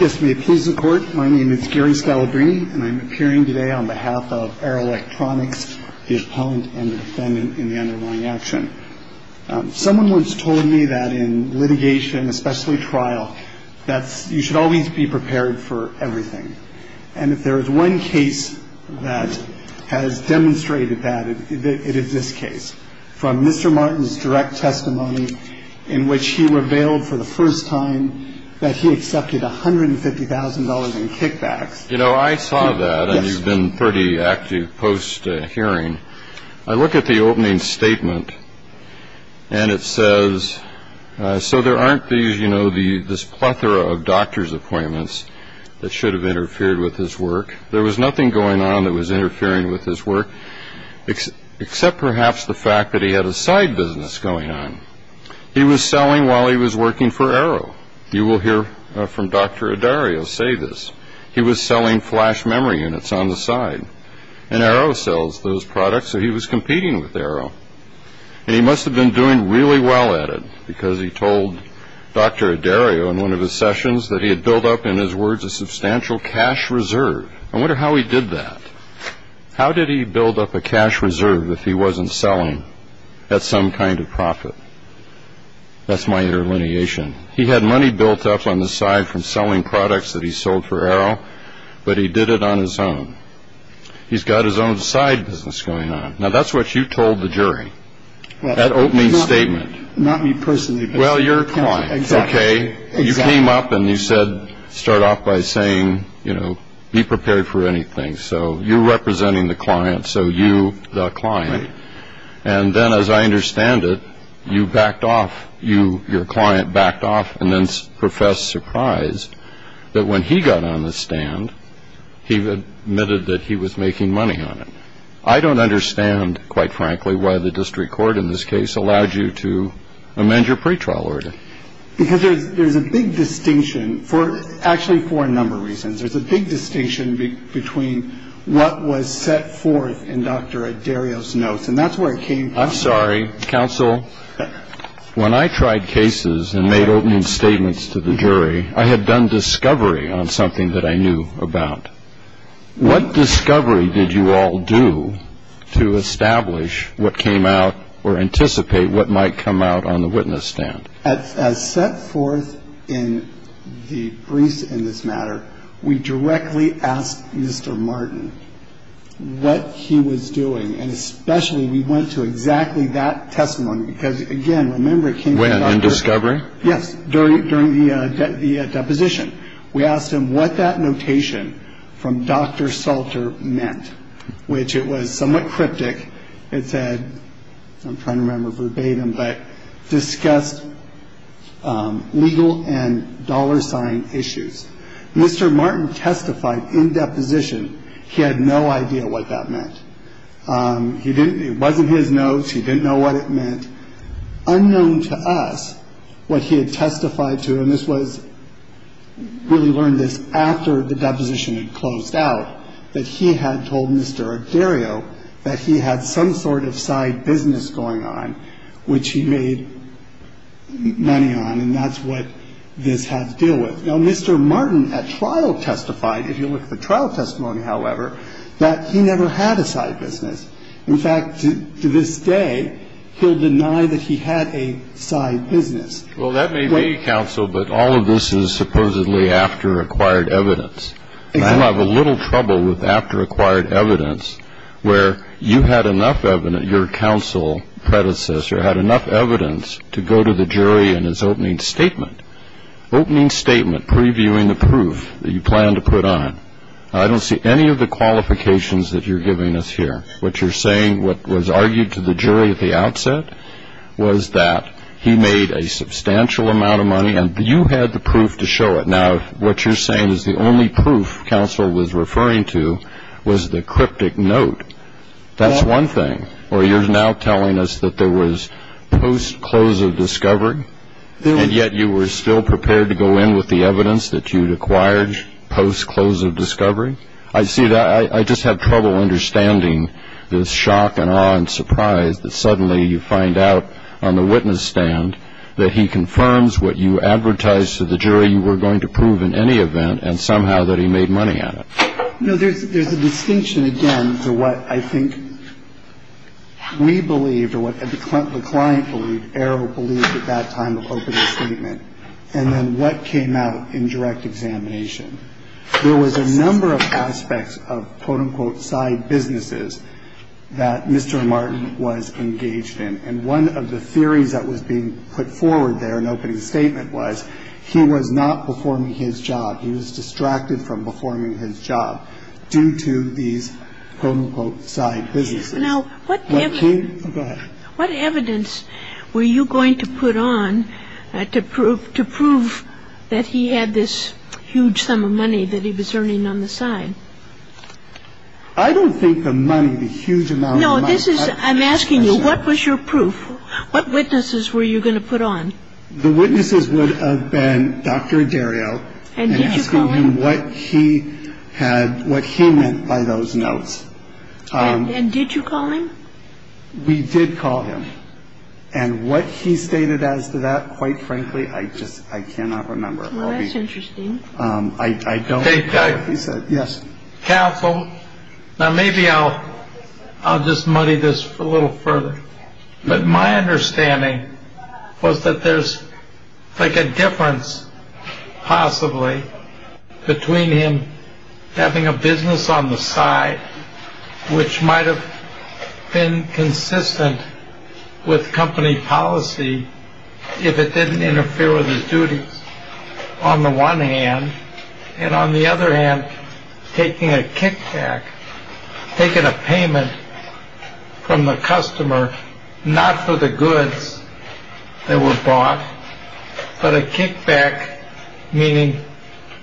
Yes, may it please the court, my name is Gary Scalabrini and I'm appearing today on behalf of Arrow Electronics, the appellant and the defendant in the underlying action. Someone once told me that in litigation, especially trial, that you should always be prepared for everything. And if there is one case that has demonstrated that, it is this case. From Mr. Martin's direct testimony in which he revealed for the first time that he accepted $150,000 in kickbacks. You know, I saw that and you've been pretty active post hearing. I look at the opening statement and it says, so there aren't these, you know, the this plethora of doctor's appointments that should have interfered with his work. There was nothing going on that was interfering with his work, except perhaps the fact that he had a side business going on. He was selling while he was working for Arrow. You will hear from Dr. Adario say this. He was selling flash memory units on the side and Arrow sells those products. So he was competing with Arrow. And he must have been doing really well at it because he told Dr. Adario in one of his sessions that he had built up, in his words, a substantial cash reserve. I wonder how he did that. How did he build up a cash reserve if he wasn't selling at some kind of profit? That's my interlineation. He had money built up on the side from selling products that he sold for Arrow, but he did it on his own. He's got his own side business going on. Now, that's what you told the jury at opening statement. Not me personally. Well, your client. OK. You came up and you said start off by saying, you know, be prepared for anything. So you're representing the client. So you the client. And then, as I understand it, you backed off. Your client backed off and then professed surprised that when he got on the stand, he admitted that he was making money on it. I don't understand, quite frankly, why the district court in this case allowed you to amend your pretrial order. Because there's a big distinction for actually for a number of reasons. There's a big distinction between what was set forth in Dr. Adario's notes. And that's where it came from. I'm sorry, counsel. When I tried cases and made opening statements to the jury, I had done discovery on something that I knew about. What discovery did you all do to establish what came out or anticipate what might come out on the witness stand? As set forth in the briefs in this matter, we directly asked Mr. Martin what he was doing. And especially we went to exactly that testimony. Because, again, remember it came from Dr. When, in discovery? Yes, during the deposition. We asked him what that notation from Dr. Salter meant, which it was somewhat cryptic. It said, I'm trying to remember verbatim, but discussed legal and dollar sign issues. Mr. Martin testified in deposition he had no idea what that meant. He didn't. It wasn't his notes. He didn't know what it meant. Unknown to us what he had testified to, and this was really learned this after the deposition had closed out, that he had told Mr. Adario that he had some sort of side business going on, which he made money on. And that's what this had to deal with. Now, Mr. Martin at trial testified, if you look at the trial testimony, however, that he never had a side business. In fact, to this day, he'll deny that he had a side business. Well, that may be, counsel, but all of this is supposedly after acquired evidence. Right. And you'll have a little trouble with after acquired evidence where you had enough evidence, your counsel predecessor had enough evidence to go to the jury in his opening statement. Opening statement previewing the proof that you plan to put on. I don't see any of the qualifications that you're giving us here. What you're saying what was argued to the jury at the outset was that he made a substantial amount of money, and you had the proof to show it. Now, what you're saying is the only proof counsel was referring to was the cryptic note. That's one thing. Or you're now telling us that there was post-close of discovery, and yet you were still prepared to go in with the evidence that you'd acquired post-close of discovery. I see that. I just have trouble understanding the shock and awe and surprise that suddenly you find out on the witness stand that he confirms what you advertised to the jury you were going to prove in any event, and somehow that he made money on it. No, there's a distinction, again, to what I think we believed or what the client believed, Arrow believed at that time of opening statement, and then what came out in direct examination. There was a number of aspects of, quote, unquote, side businesses that Mr. Martin was engaged in. And one of the theories that was being put forward there in opening statement was he was not performing his job. He was distracted from performing his job due to these, quote, unquote, side businesses. Now, what evidence. Go ahead. What evidence were you going to put on to prove that he had this huge sum of money that he was earning on the side? I don't think the money, the huge amount of money. No, this is, I'm asking you, what was your proof? What witnesses were you going to put on? The witnesses would have been Dr. Dario. And did you call him? And asking him what he had, what he meant by those notes. And did you call him? We did call him. And what he stated as to that, quite frankly, I just, I cannot remember. Well, that's interesting. I don't remember what he said. Yes. Counsel, now maybe I'll just muddy this a little further. But my understanding was that there's like a difference possibly between him having a business on the side, which might have been consistent with company policy if it didn't interfere with his duties on the one hand. And on the other hand, taking a kickback, taking a payment from the customer, not for the goods that were bought, but a kickback, meaning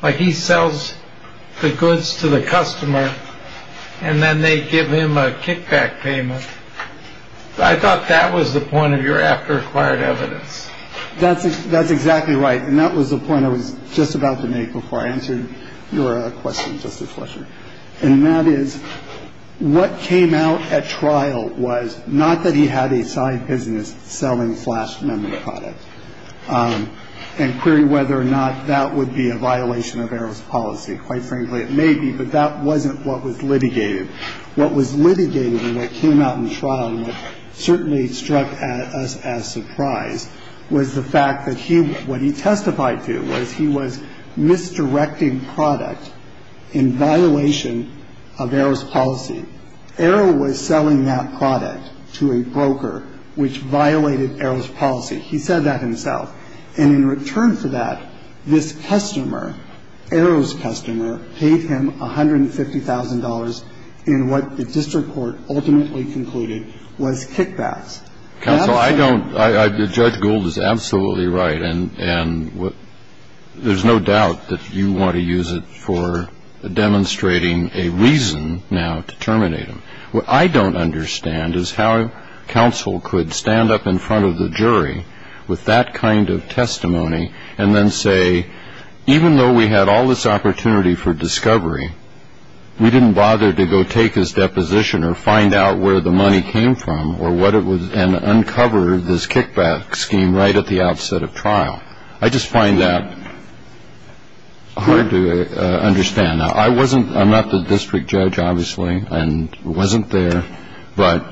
like he sells the goods to the customer and then they give him a kickback payment. I thought that was the point of your after acquired evidence. That's exactly right. And that was the point I was just about to make before I answered your question, Justice Fletcher. And that is, what came out at trial was not that he had a side business selling flash memory products and query whether or not that would be a violation of errors policy. Quite frankly, it may be. But that wasn't what was litigated. What was litigated and what came out in trial, certainly struck us as surprise, was the fact that he what he testified to was he was misdirecting product in violation of errors policy. Arrow was selling that product to a broker, which violated errors policy. He said that himself. And in return for that, this customer, Arrow's customer, paid him $150,000 in what the district court ultimately concluded was kickbacks. Counsel, I don't. Judge Gould is absolutely right. And there's no doubt that you want to use it for demonstrating a reason now to terminate him. What I don't understand is how counsel could stand up in front of the jury with that kind of testimony and then say, even though we had all this opportunity for discovery, we didn't bother to go take his deposition or find out where the money came from or what it was and uncover this kickback scheme right at the outset of trial. I just find that hard to understand. And I wasn't I'm not the district judge, obviously, and wasn't there. But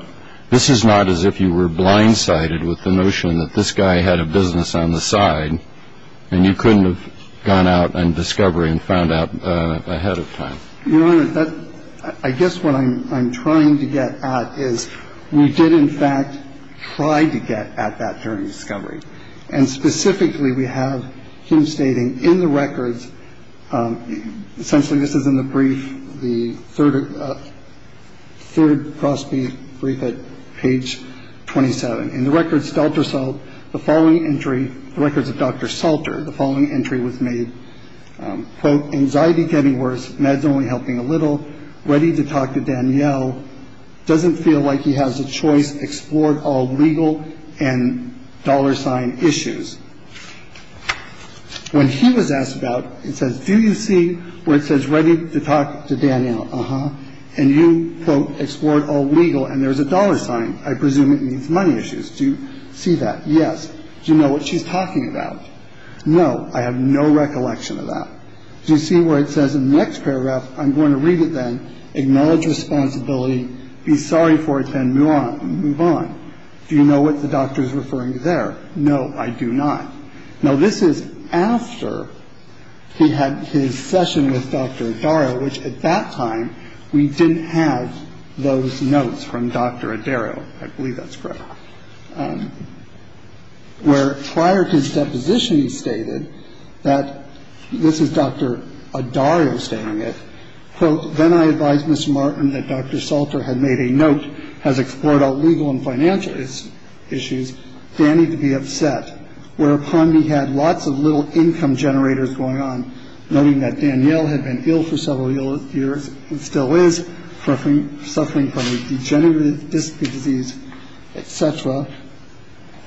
this is not as if you were blindsided with the notion that this guy had a business on the side and you couldn't have gone out and discovery and found out ahead of time. Your Honor, I guess what I'm trying to get at is we did in fact try to get at that during discovery. And specifically, we have him stating in the records. Essentially, this is in the brief. The third third crossbreed brief at page twenty seven in the records. Delta. So the following entry records of Dr. Salter, the following entry was made, quote, anxiety, getting worse. Meds only helping a little. Ready to talk to Danielle. Doesn't feel like he has a choice. Explored all legal and dollar sign issues. When he was asked about it, says, do you see where it says ready to talk to Danielle? Uh huh. And you, quote, explored all legal. And there is a dollar sign. I presume it means money issues. Do you see that? Yes. You know what she's talking about. No, I have no recollection of that. You see where it says in the next paragraph, I'm going to read it then. Acknowledge responsibility. Be sorry for it and move on. Do you know what the doctor is referring to there? No, I do not know. This is after he had his session with Dr. Dara, which at that time we didn't have those notes from Dr. Darrow. I believe that's correct. Where prior to his deposition, he stated that this is Dr. Darrow stating it, quote, then I advise Mr. Martin that Dr. Salter had made a note, has explored all legal and financial issues. They need to be upset. Whereupon he had lots of little income generators going on,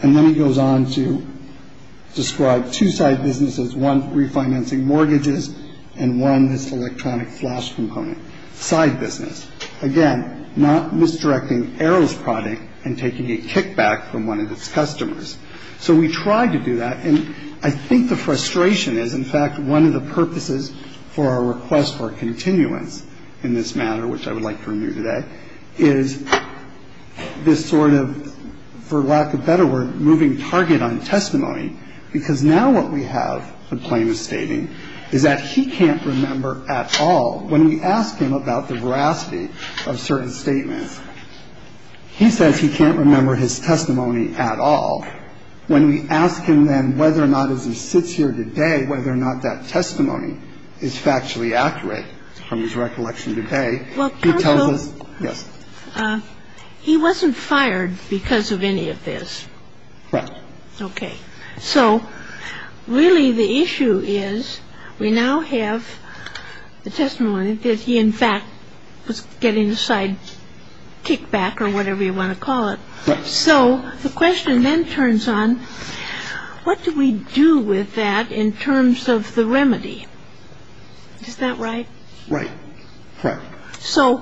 And then he goes on to describe two side businesses, one refinancing mortgages and one this electronic flash component side business. Again, not misdirecting Arrow's product and taking a kickback from one of its customers. So we tried to do that. And I think the frustration is, in fact, one of the purposes for our request for continuance in this matter, which I would like to renew today, is this sort of, for lack of better word, moving target on testimony. Because now what we have the plaintiff stating is that he can't remember at all. When we ask him about the veracity of certain statements, he says he can't remember his testimony at all. When we ask him then whether or not as he sits here today, whether or not that testimony is factually accurate from his recollection today, he tells us, yes, he wasn't fired because of any of this. Right. OK. So really, the issue is we now have the testimony that he, in fact, was getting a side kickback or whatever you want to call it. So the question then turns on, what do we do with that in terms of the remedy? Is that right? Right. So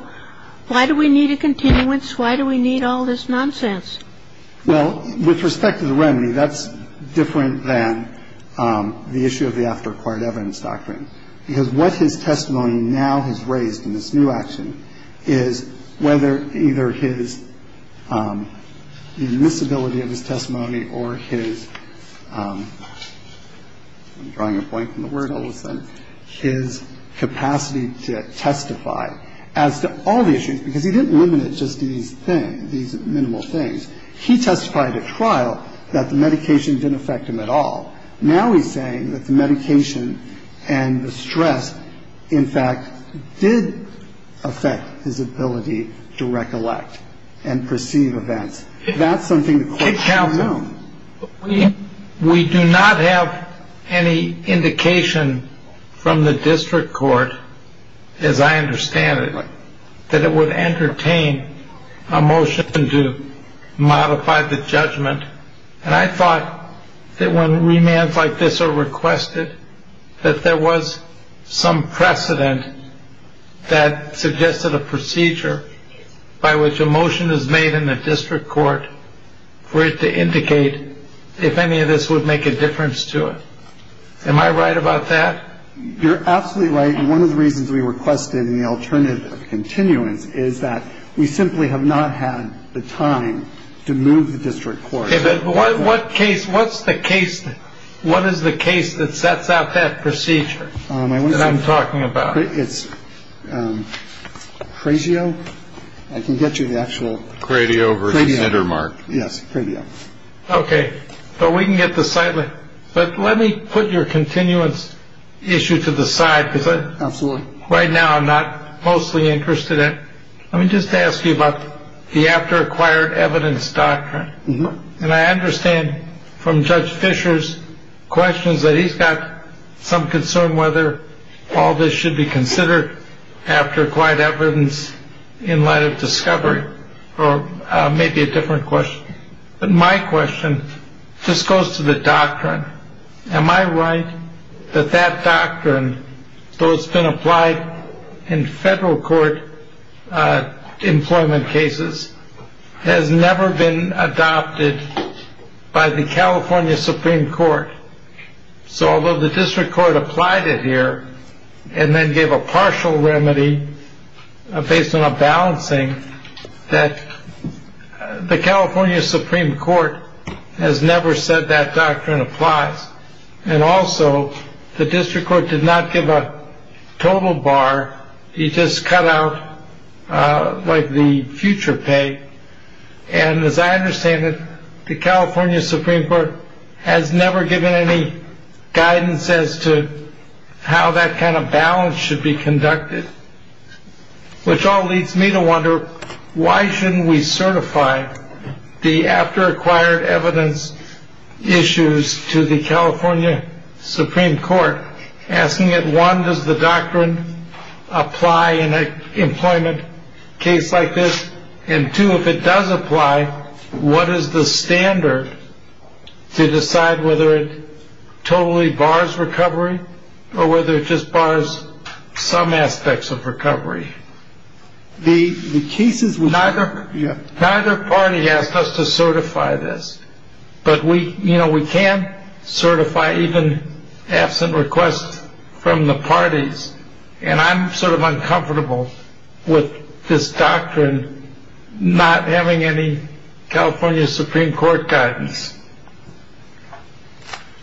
why do we need a continuance? Why do we need all this nonsense? Well, with respect to the remedy, that's different than the issue of the after acquired evidence doctrine, because what his testimony now has raised in this new action is whether either his, the miscibility of his testimony or his, I'm drawing a blank on the word all of a sudden, his capacity to testify as to all the issues, because he didn't limit it just to these things, these minimal things. He testified at trial that the medication didn't affect him at all. Now he's saying that the medication and the stress, in fact, did affect his ability to recollect and perceive events. That's something. We do not have any indication from the district court, as I understand it, that it would entertain a motion to modify the judgment. And I thought that when remands like this are requested, that there was some precedent that suggested a procedure by which a motion is made in the district court for it to indicate if any of this would make a difference to it. Am I right about that? You're absolutely right. One of the reasons we requested the alternative continuance is that we simply have not had the time to move the district court. But what case? What's the case? What is the case that sets out that procedure that I'm talking about? It's crazy. Oh, I can get you the actual radio. Yes. OK. But we can get the site. But let me put your continuance issue to the side because absolutely right now I'm not mostly interested in. Let me just ask you about the after acquired evidence doctrine. And I understand from Judge Fisher's questions that he's got some concern whether all this after quite evidence in light of discovery or maybe a different question. But my question just goes to the doctrine. Am I right that that doctrine has been applied in federal court employment cases, has never been adopted by the California Supreme Court. So although the district court applied it here and then gave a partial remedy based on a balancing that the California Supreme Court has never said that doctrine applies. And also the district court did not give a total bar. He just cut out like the future pay. And as I understand it, the California Supreme Court has never given any guidance as to how that kind of balance should be conducted. Which all leads me to wonder, why shouldn't we certify the after acquired evidence issues to the California Supreme Court? Asking it, one, does the doctrine apply in an employment case like this? And two, if it does apply, what is the standard to decide whether it totally bars recovery or whether it just bars some aspects of recovery? The case is neither. Yeah. Neither party asked us to certify this, but we you know, we can certify even absent requests from the parties. And I'm sort of uncomfortable with this doctrine not having any California Supreme Court guidance.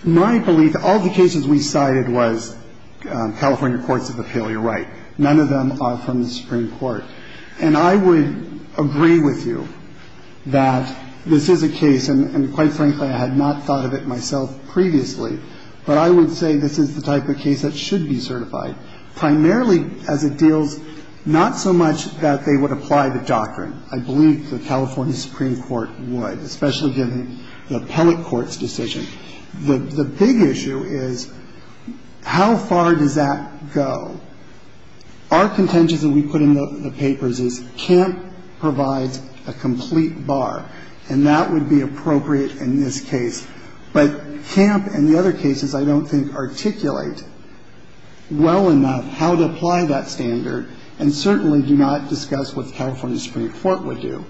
My belief, all the cases we cited was California courts of appeal. You're right. None of them are from the Supreme Court. And I would agree with you that this is a case, and quite frankly, I had not thought of it myself previously. But I would say this is the type of case that should be certified, primarily as it deals not so much that they would apply the doctrine. I believe the California Supreme Court would, especially given the appellate court's decision. The big issue is how far does that go? Our contention that we put in the papers is CAMP provides a complete bar, and that would be appropriate in this case. But CAMP and the other cases I don't think articulate well enough how to apply that standard and certainly do not discuss what the California Supreme Court would do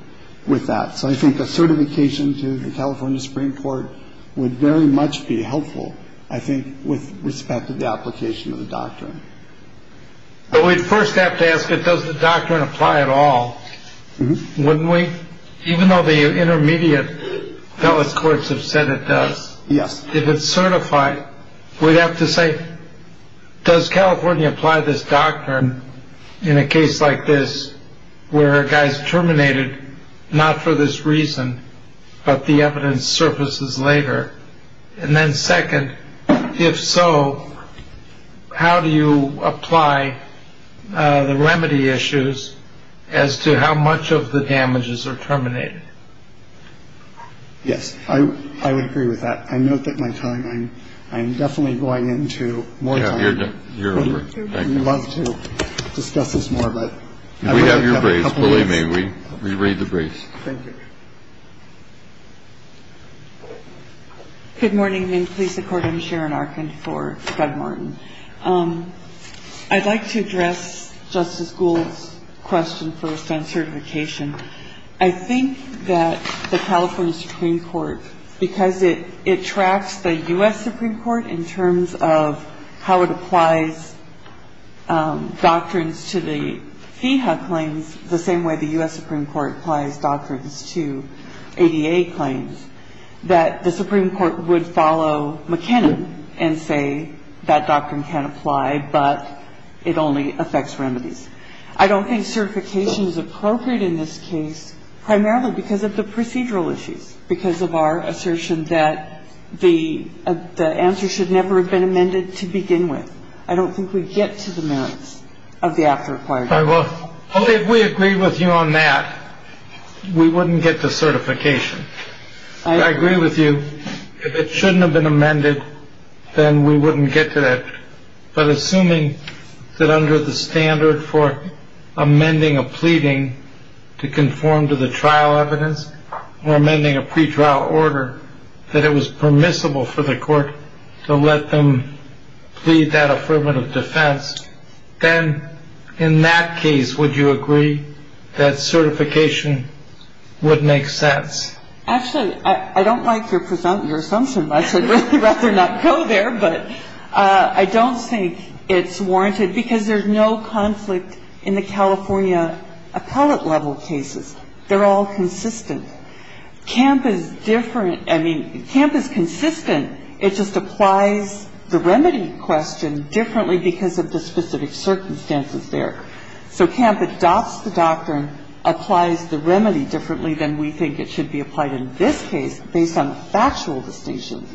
with that. So I think a certification to the California Supreme Court would very much be helpful, I think, with respect to the application of the doctrine. But we'd first have to ask it, does the doctrine apply at all? Wouldn't we? Even though the intermediate courts have said it does. Yes. If it's certified, we'd have to say, does California apply this doctrine in a case like this where a guy is terminated? Not for this reason, but the evidence surfaces later. And then second, if so, how do you apply the remedy issues as to how much of the damages are terminated? Yes, I would agree with that. I know that my time I'm I'm definitely going into more. Thank you. We'd love to discuss this more. But we have your brace. Believe me, we read the brace. Thank you. Good morning. Please support him. Sharon Arkin for Doug Martin. I'd like to address Justice Gould's question first on certification. I think that the California Supreme Court, because it it tracks the U.S. Supreme Court in terms of how it applies doctrines to the FEHA claims the same way the U.S. Supreme Court applies doctrines to ADA claims, that the Supreme Court would follow McKinnon and say that doctrine can apply, but it only affects remedies. I don't think certification is appropriate in this case, primarily because of the procedural issues, because of our assertion that the answer should never have been amended to begin with. I don't think we get to the merits of the after-requirements. Well, if we agree with you on that, we wouldn't get to certification. I agree with you. If it shouldn't have been amended, then we wouldn't get to that. But assuming that under the standard for amending a pleading to conform to the trial evidence or amending a pretrial order, that it was permissible for the court to let them plead that affirmative defense, then in that case, would you agree that certification would make sense? Actually, I don't like your assumption much. I'd rather not go there, but I don't think it's warranted, because there's no conflict in the California appellate-level cases. They're all consistent. CAMP is different. I mean, CAMP is consistent. It just applies the remedy question differently because of the specific circumstances there. So CAMP adopts the doctrine, applies the remedy differently than we think it should be applied in this case based on factual distinction.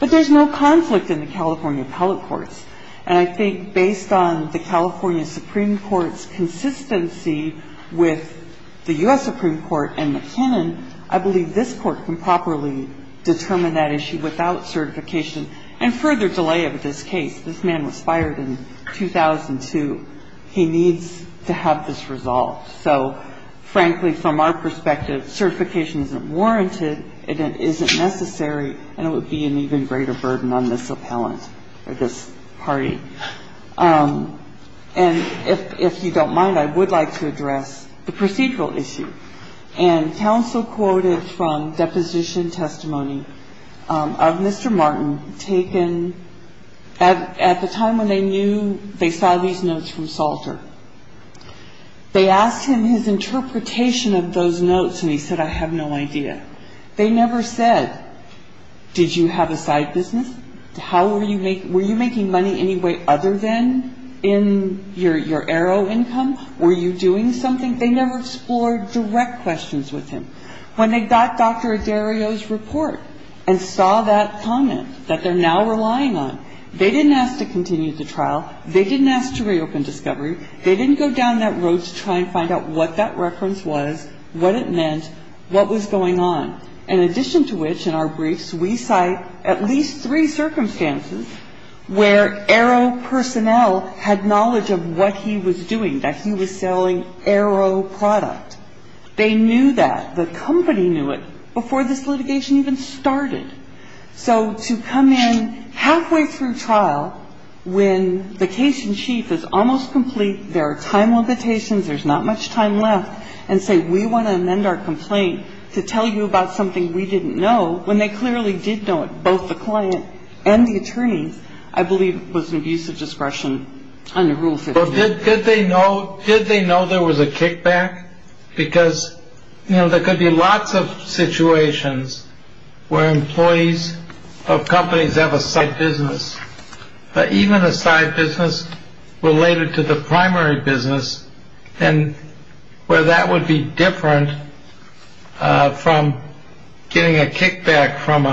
But there's no conflict in the California appellate courts. And I think based on the California Supreme Court's consistency with the U.S. Supreme Court and McKinnon, I believe this Court can properly determine that issue without certification and further delay of this case. This man was fired in 2002. He needs to have this resolved. So, frankly, from our perspective, certification isn't warranted, it isn't necessary, and it would be an even greater burden on this appellant or this party. And if you don't mind, I would like to address the procedural issue. And counsel quoted from deposition testimony of Mr. Martin, taken at the time when they knew they saw these notes from Salter. They asked him his interpretation of those notes, and he said, I have no idea. They never said, did you have a side business? How were you making money any way other than in your aero income? Were you doing something? They never explored direct questions with him. When they got Dr. Adario's report and saw that comment that they're now relying on, they didn't ask to continue the trial. They didn't ask to reopen discovery. They didn't go down that road to try and find out what that reference was, what it meant, what was going on. In addition to which, in our briefs, we cite at least three circumstances where aero personnel had knowledge of what he was doing, that he was selling aero product. They knew that. The company knew it before this litigation even started. So to come in halfway through trial when the case in chief is almost complete, there are time limitations, there's not much time left, and say, we want to amend our complaint to tell you about something we didn't know, when they clearly did know it, both the client and the attorneys, I believe was an abuse of discretion under Rule 15. Did they know there was a kickback? Because there could be lots of situations where employees of companies have a side business, but even a side business related to the primary business, where that would be different from getting a kickback from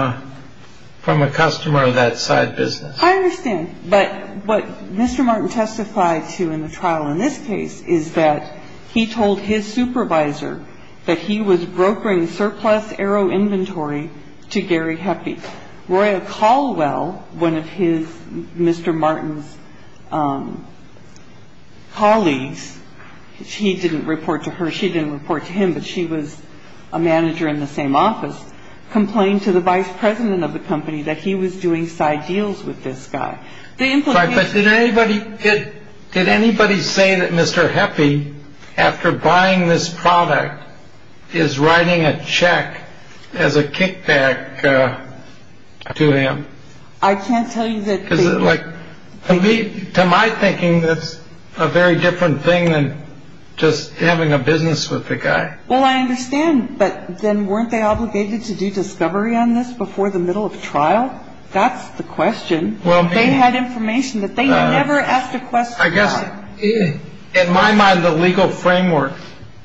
a customer of that side business. I understand. But what Mr. Martin testified to in the trial in this case is that he told his supervisor that he was brokering surplus aero inventory to Gary Heppe. Roya Caldwell, one of his Mr. Martin's colleagues, he didn't report to her, she didn't report to him, but she was a manager in the same office, complained to the vice president of the company that he was doing side deals with this guy. Did anybody say that Mr. Heppe, after buying this product, is writing a check as a kickback to him? I can't tell you that. To my thinking, that's a very different thing than just having a business with the guy. Well, I understand, but then weren't they obligated to do discovery on this before the middle of trial? That's the question. They had information that they never asked a question. I guess, in my mind, the legal framework,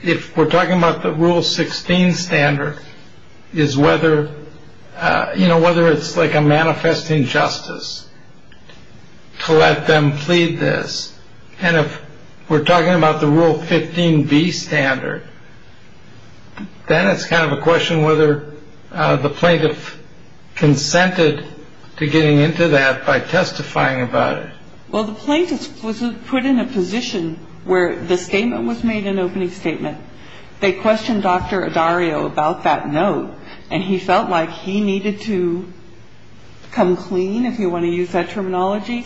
if we're talking about the Rule 16 standard, is whether it's like a manifest injustice to let them plead this. And if we're talking about the Rule 15B standard, then it's kind of a question whether the plaintiff consented to getting into that by testifying about it. Well, the plaintiff was put in a position where the statement was made an opening statement. They questioned Dr. Adario about that note, and he felt like he needed to come clean, if you want to use that terminology,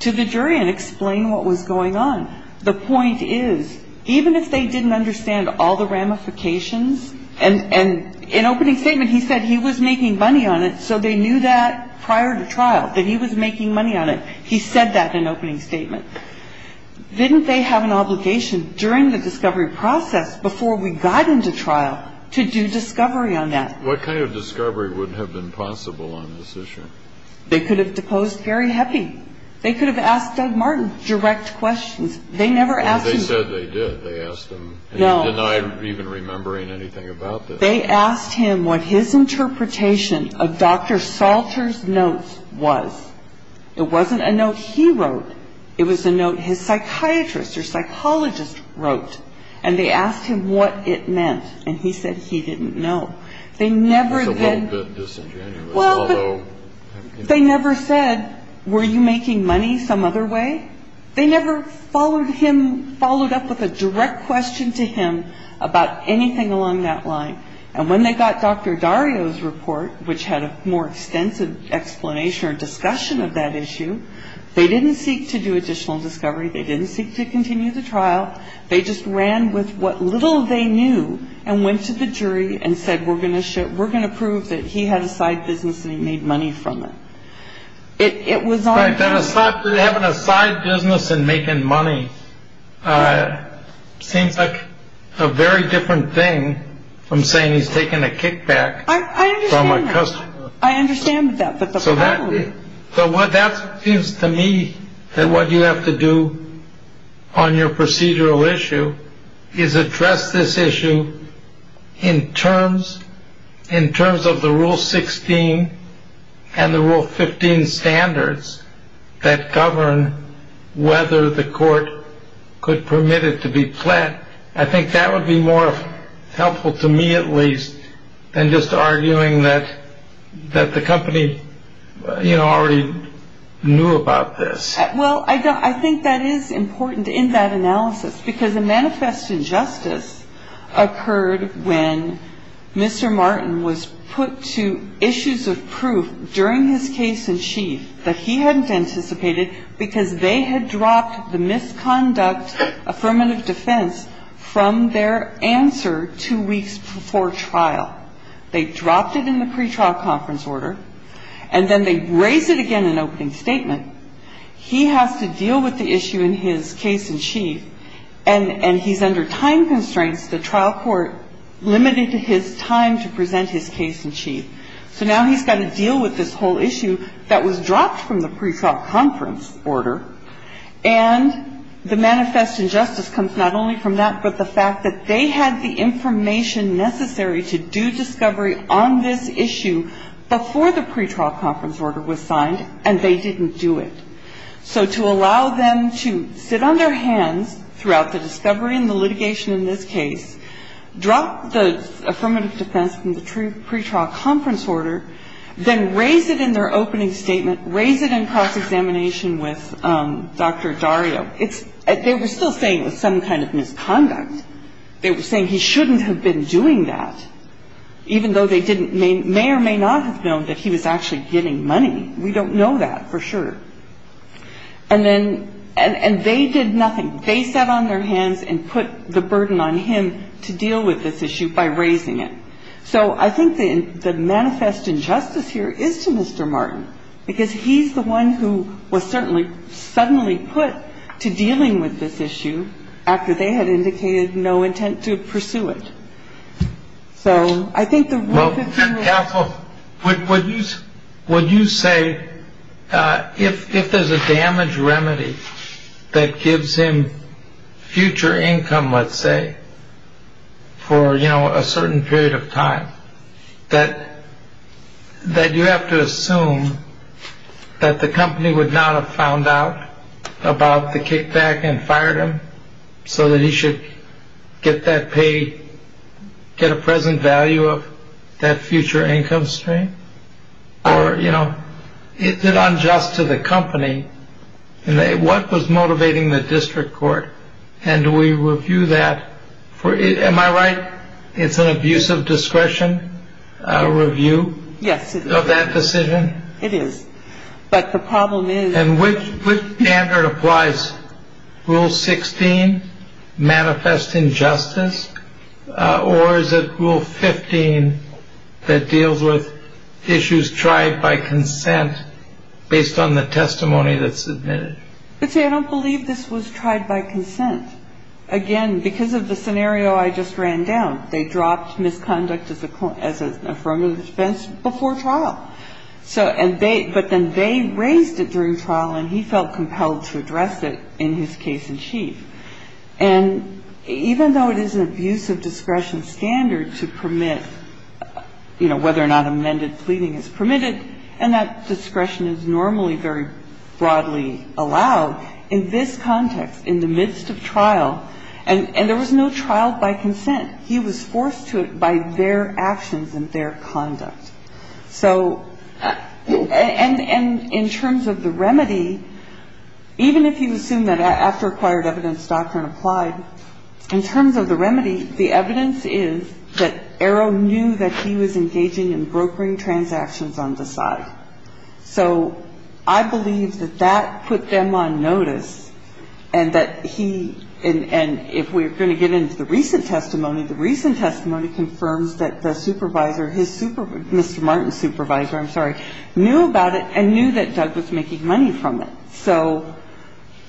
to the jury and explain what was going on. The point is, even if they didn't understand all the ramifications, and in opening statement he said he was making money on it, so they knew that prior to trial, that he was making money on it. He said that in opening statement. Didn't they have an obligation during the discovery process, before we got into trial, to do discovery on that? What kind of discovery would have been possible on this issue? They could have deposed Gary Heppy. They could have asked Doug Martin direct questions. They never asked him. But they said they did. They asked him. No. And he denied even remembering anything about this. They asked him what his interpretation of Dr. Salter's notes was. It wasn't a note he wrote. It was a note his psychiatrist or psychologist wrote. And they asked him what it meant. And he said he didn't know. They never then. That's a little bit disingenuous. Well, but they never said, were you making money some other way? They never followed him, followed up with a direct question to him about anything along that line. And when they got Dr. Dario's report, which had a more extensive explanation or discussion of that issue, they didn't seek to do additional discovery. They didn't seek to continue the trial. They just ran with what little they knew and went to the jury and said, we're going to show we're going to prove that he had a side business and he made money from it. It was a side business and making money. Seems like a very different thing. I'm saying he's taking a kickback. I understand. I understand that. So what that means to me that what you have to do on your procedural issue is address this issue in terms, in terms of the rule 16 and the rule 15 standards that govern whether the court could permit it to be planned. I think that would be more helpful to me, at least, than just arguing that that the company already knew about this. Well, I think that is important in that analysis, because the manifest injustice occurred when Mr. Martin was put to issues of proof during his case in chief that he hadn't anticipated, because they had dropped the misconduct affirmative defense from their answer two weeks before trial. They dropped it in the pretrial conference order, and then they raised it again in opening statement. He has to deal with the issue in his case in chief, and he's under time constraints, the trial court, limited his time to present his case in chief. So now he's got to deal with this whole issue that was dropped from the pretrial conference order, and the manifest injustice comes not only from that, but the fact that they had the information necessary to do discovery on this issue before the pretrial conference order was signed, and they didn't do it. So to allow them to sit on their hands throughout the discovery and the litigation in this case, drop the affirmative defense from the pretrial conference order, then raise it in their opening statement, raise it in cross-examination with Dr. Dario. It's – they were still saying it was some kind of misconduct. They were saying he shouldn't have been doing that, even though they didn't – may or may not have known that he was actually getting money. We don't know that for sure. And then – and they did nothing. They sat on their hands and put the burden on him to deal with this issue by raising it. So I think the manifest injustice here is to Mr. Martin, because he's the one who was certainly suddenly put to dealing with this issue after they had indicated no intent to pursue it. So I think the – Would you say if there's a damage remedy that gives him future income, let's say, for, you know, a certain period of time, that you have to assume that the company would not have found out about the kickback and fired him so that he should get that pay – get a present value of that future income stream? Or, you know, is it unjust to the company? What was motivating the district court? And do we review that for – am I right? It's an abuse of discretion, a review of that decision? It is. But the problem is – And which standard applies? Rule 16, manifest injustice? Or is it Rule 15 that deals with issues tried by consent based on the testimony that's submitted? Let's see, I don't believe this was tried by consent. Again, because of the scenario I just ran down, they dropped misconduct as an affirmative defense before trial. So – and they – but then they raised it during trial, and he felt compelled to address it in his case-in-chief. And even though it is an abuse of discretion standard to permit, you know, whether or not amended pleading is permitted, and that discretion is normally very broadly allowed, in this context, in the midst of trial – and there was no trial by consent. He was forced to it by their actions and their conduct. So – and in terms of the remedy, even if you assume that after acquired evidence doctrine applied, in terms of the remedy, the evidence is that Arrow knew that he was engaging in brokering transactions on the side. So I believe that that put them on notice, and that he – and if we're going to get into the recent testimony, the recent testimony confirms that the supervisor, his supervisor – Mr. Martin's supervisor, I'm sorry, knew about it and knew that Doug was making money from it. So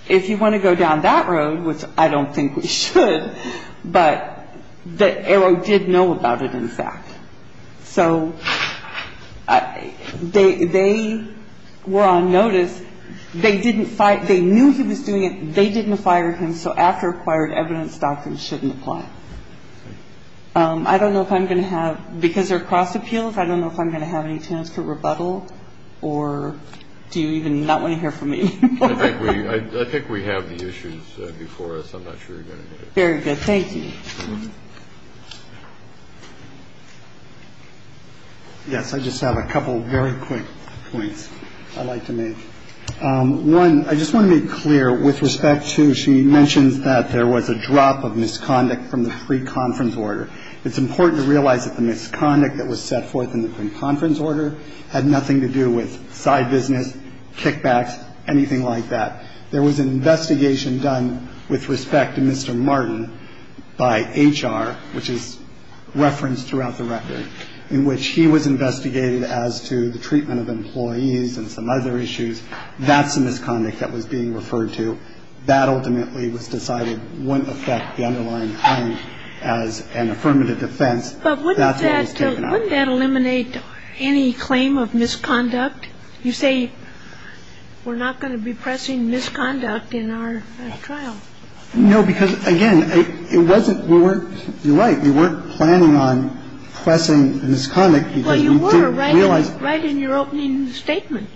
if you want to go down that road, which I don't think we should, but that Arrow did know about it, in fact. So they – they were on notice. They didn't – they knew he was doing it. They didn't fire him, so after acquired evidence doctrine shouldn't apply. I don't know if I'm going to have – because they're cross appeals, I don't know if I'm going to have any chance to rebuttal, or do you even not want to hear from me anymore? I think we – I think we have the issues before us. I'm not sure you're going to need it. Very good. Thank you. Yes, I just have a couple very quick points I'd like to make. One, I just want to be clear with respect to – she mentions that there was a drop of misconduct from the pre-conference order. It's important to realize that the misconduct that was set forth in the pre-conference order had nothing to do with side business, kickbacks, anything like that. There was an investigation done with respect to Mr. Martin by HR, which is referenced throughout the record, in which he was investigated as to the treatment of employees and some other issues. That's the misconduct that was being referred to. That ultimately was decided wouldn't affect the underlying claim as an affirmative defense. But wouldn't that eliminate any claim of misconduct? You say we're not going to be pressing misconduct in our trial. No, because, again, it wasn't – we weren't – you're right. We weren't going on pressing the misconduct because we didn't realize – Well, you were right in your opening statement.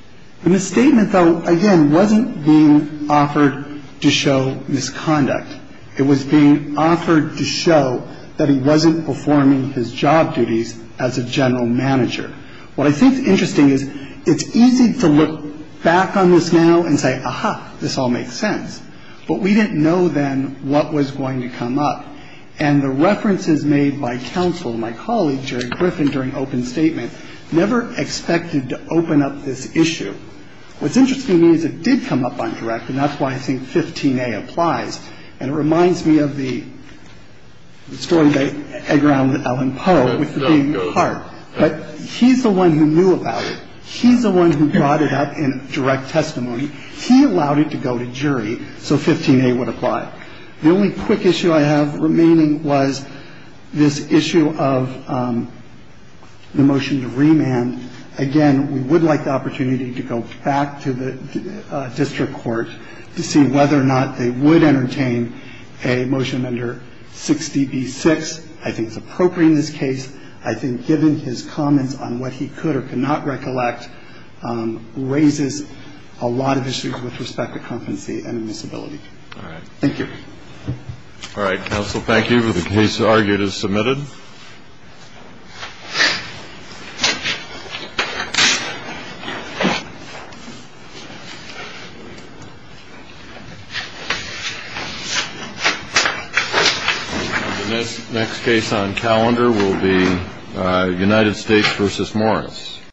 The misstatement, though, again, wasn't being offered to show misconduct. It was being offered to show that he wasn't performing his job duties as a general manager. What I think is interesting is it's easy to look back on this now and say, aha, this all makes sense. But we didn't know then what was going to come up. And the references made by counsel to my colleague, Jerry Griffin, during open statement, never expected to open up this issue. What's interesting to me is it did come up on direct, and that's why I think 15A applies. And it reminds me of the story they egged around with Ellen Poe with the beating heart. But he's the one who knew about it. He's the one who brought it up in direct testimony. He allowed it to go to jury so 15A would apply. The only quick issue I have remaining was this issue of the motion to remand. Again, we would like the opportunity to go back to the district court to see whether or not they would entertain a motion under 60B6. I think it's appropriate in this case. I think given his comments on what he could or could not recollect raises a lot of issues with respect to competency and admissibility. All right. Thank you. All right, counsel. Thank you. The case argued is submitted. The next case on calendar will be United States v. Morris.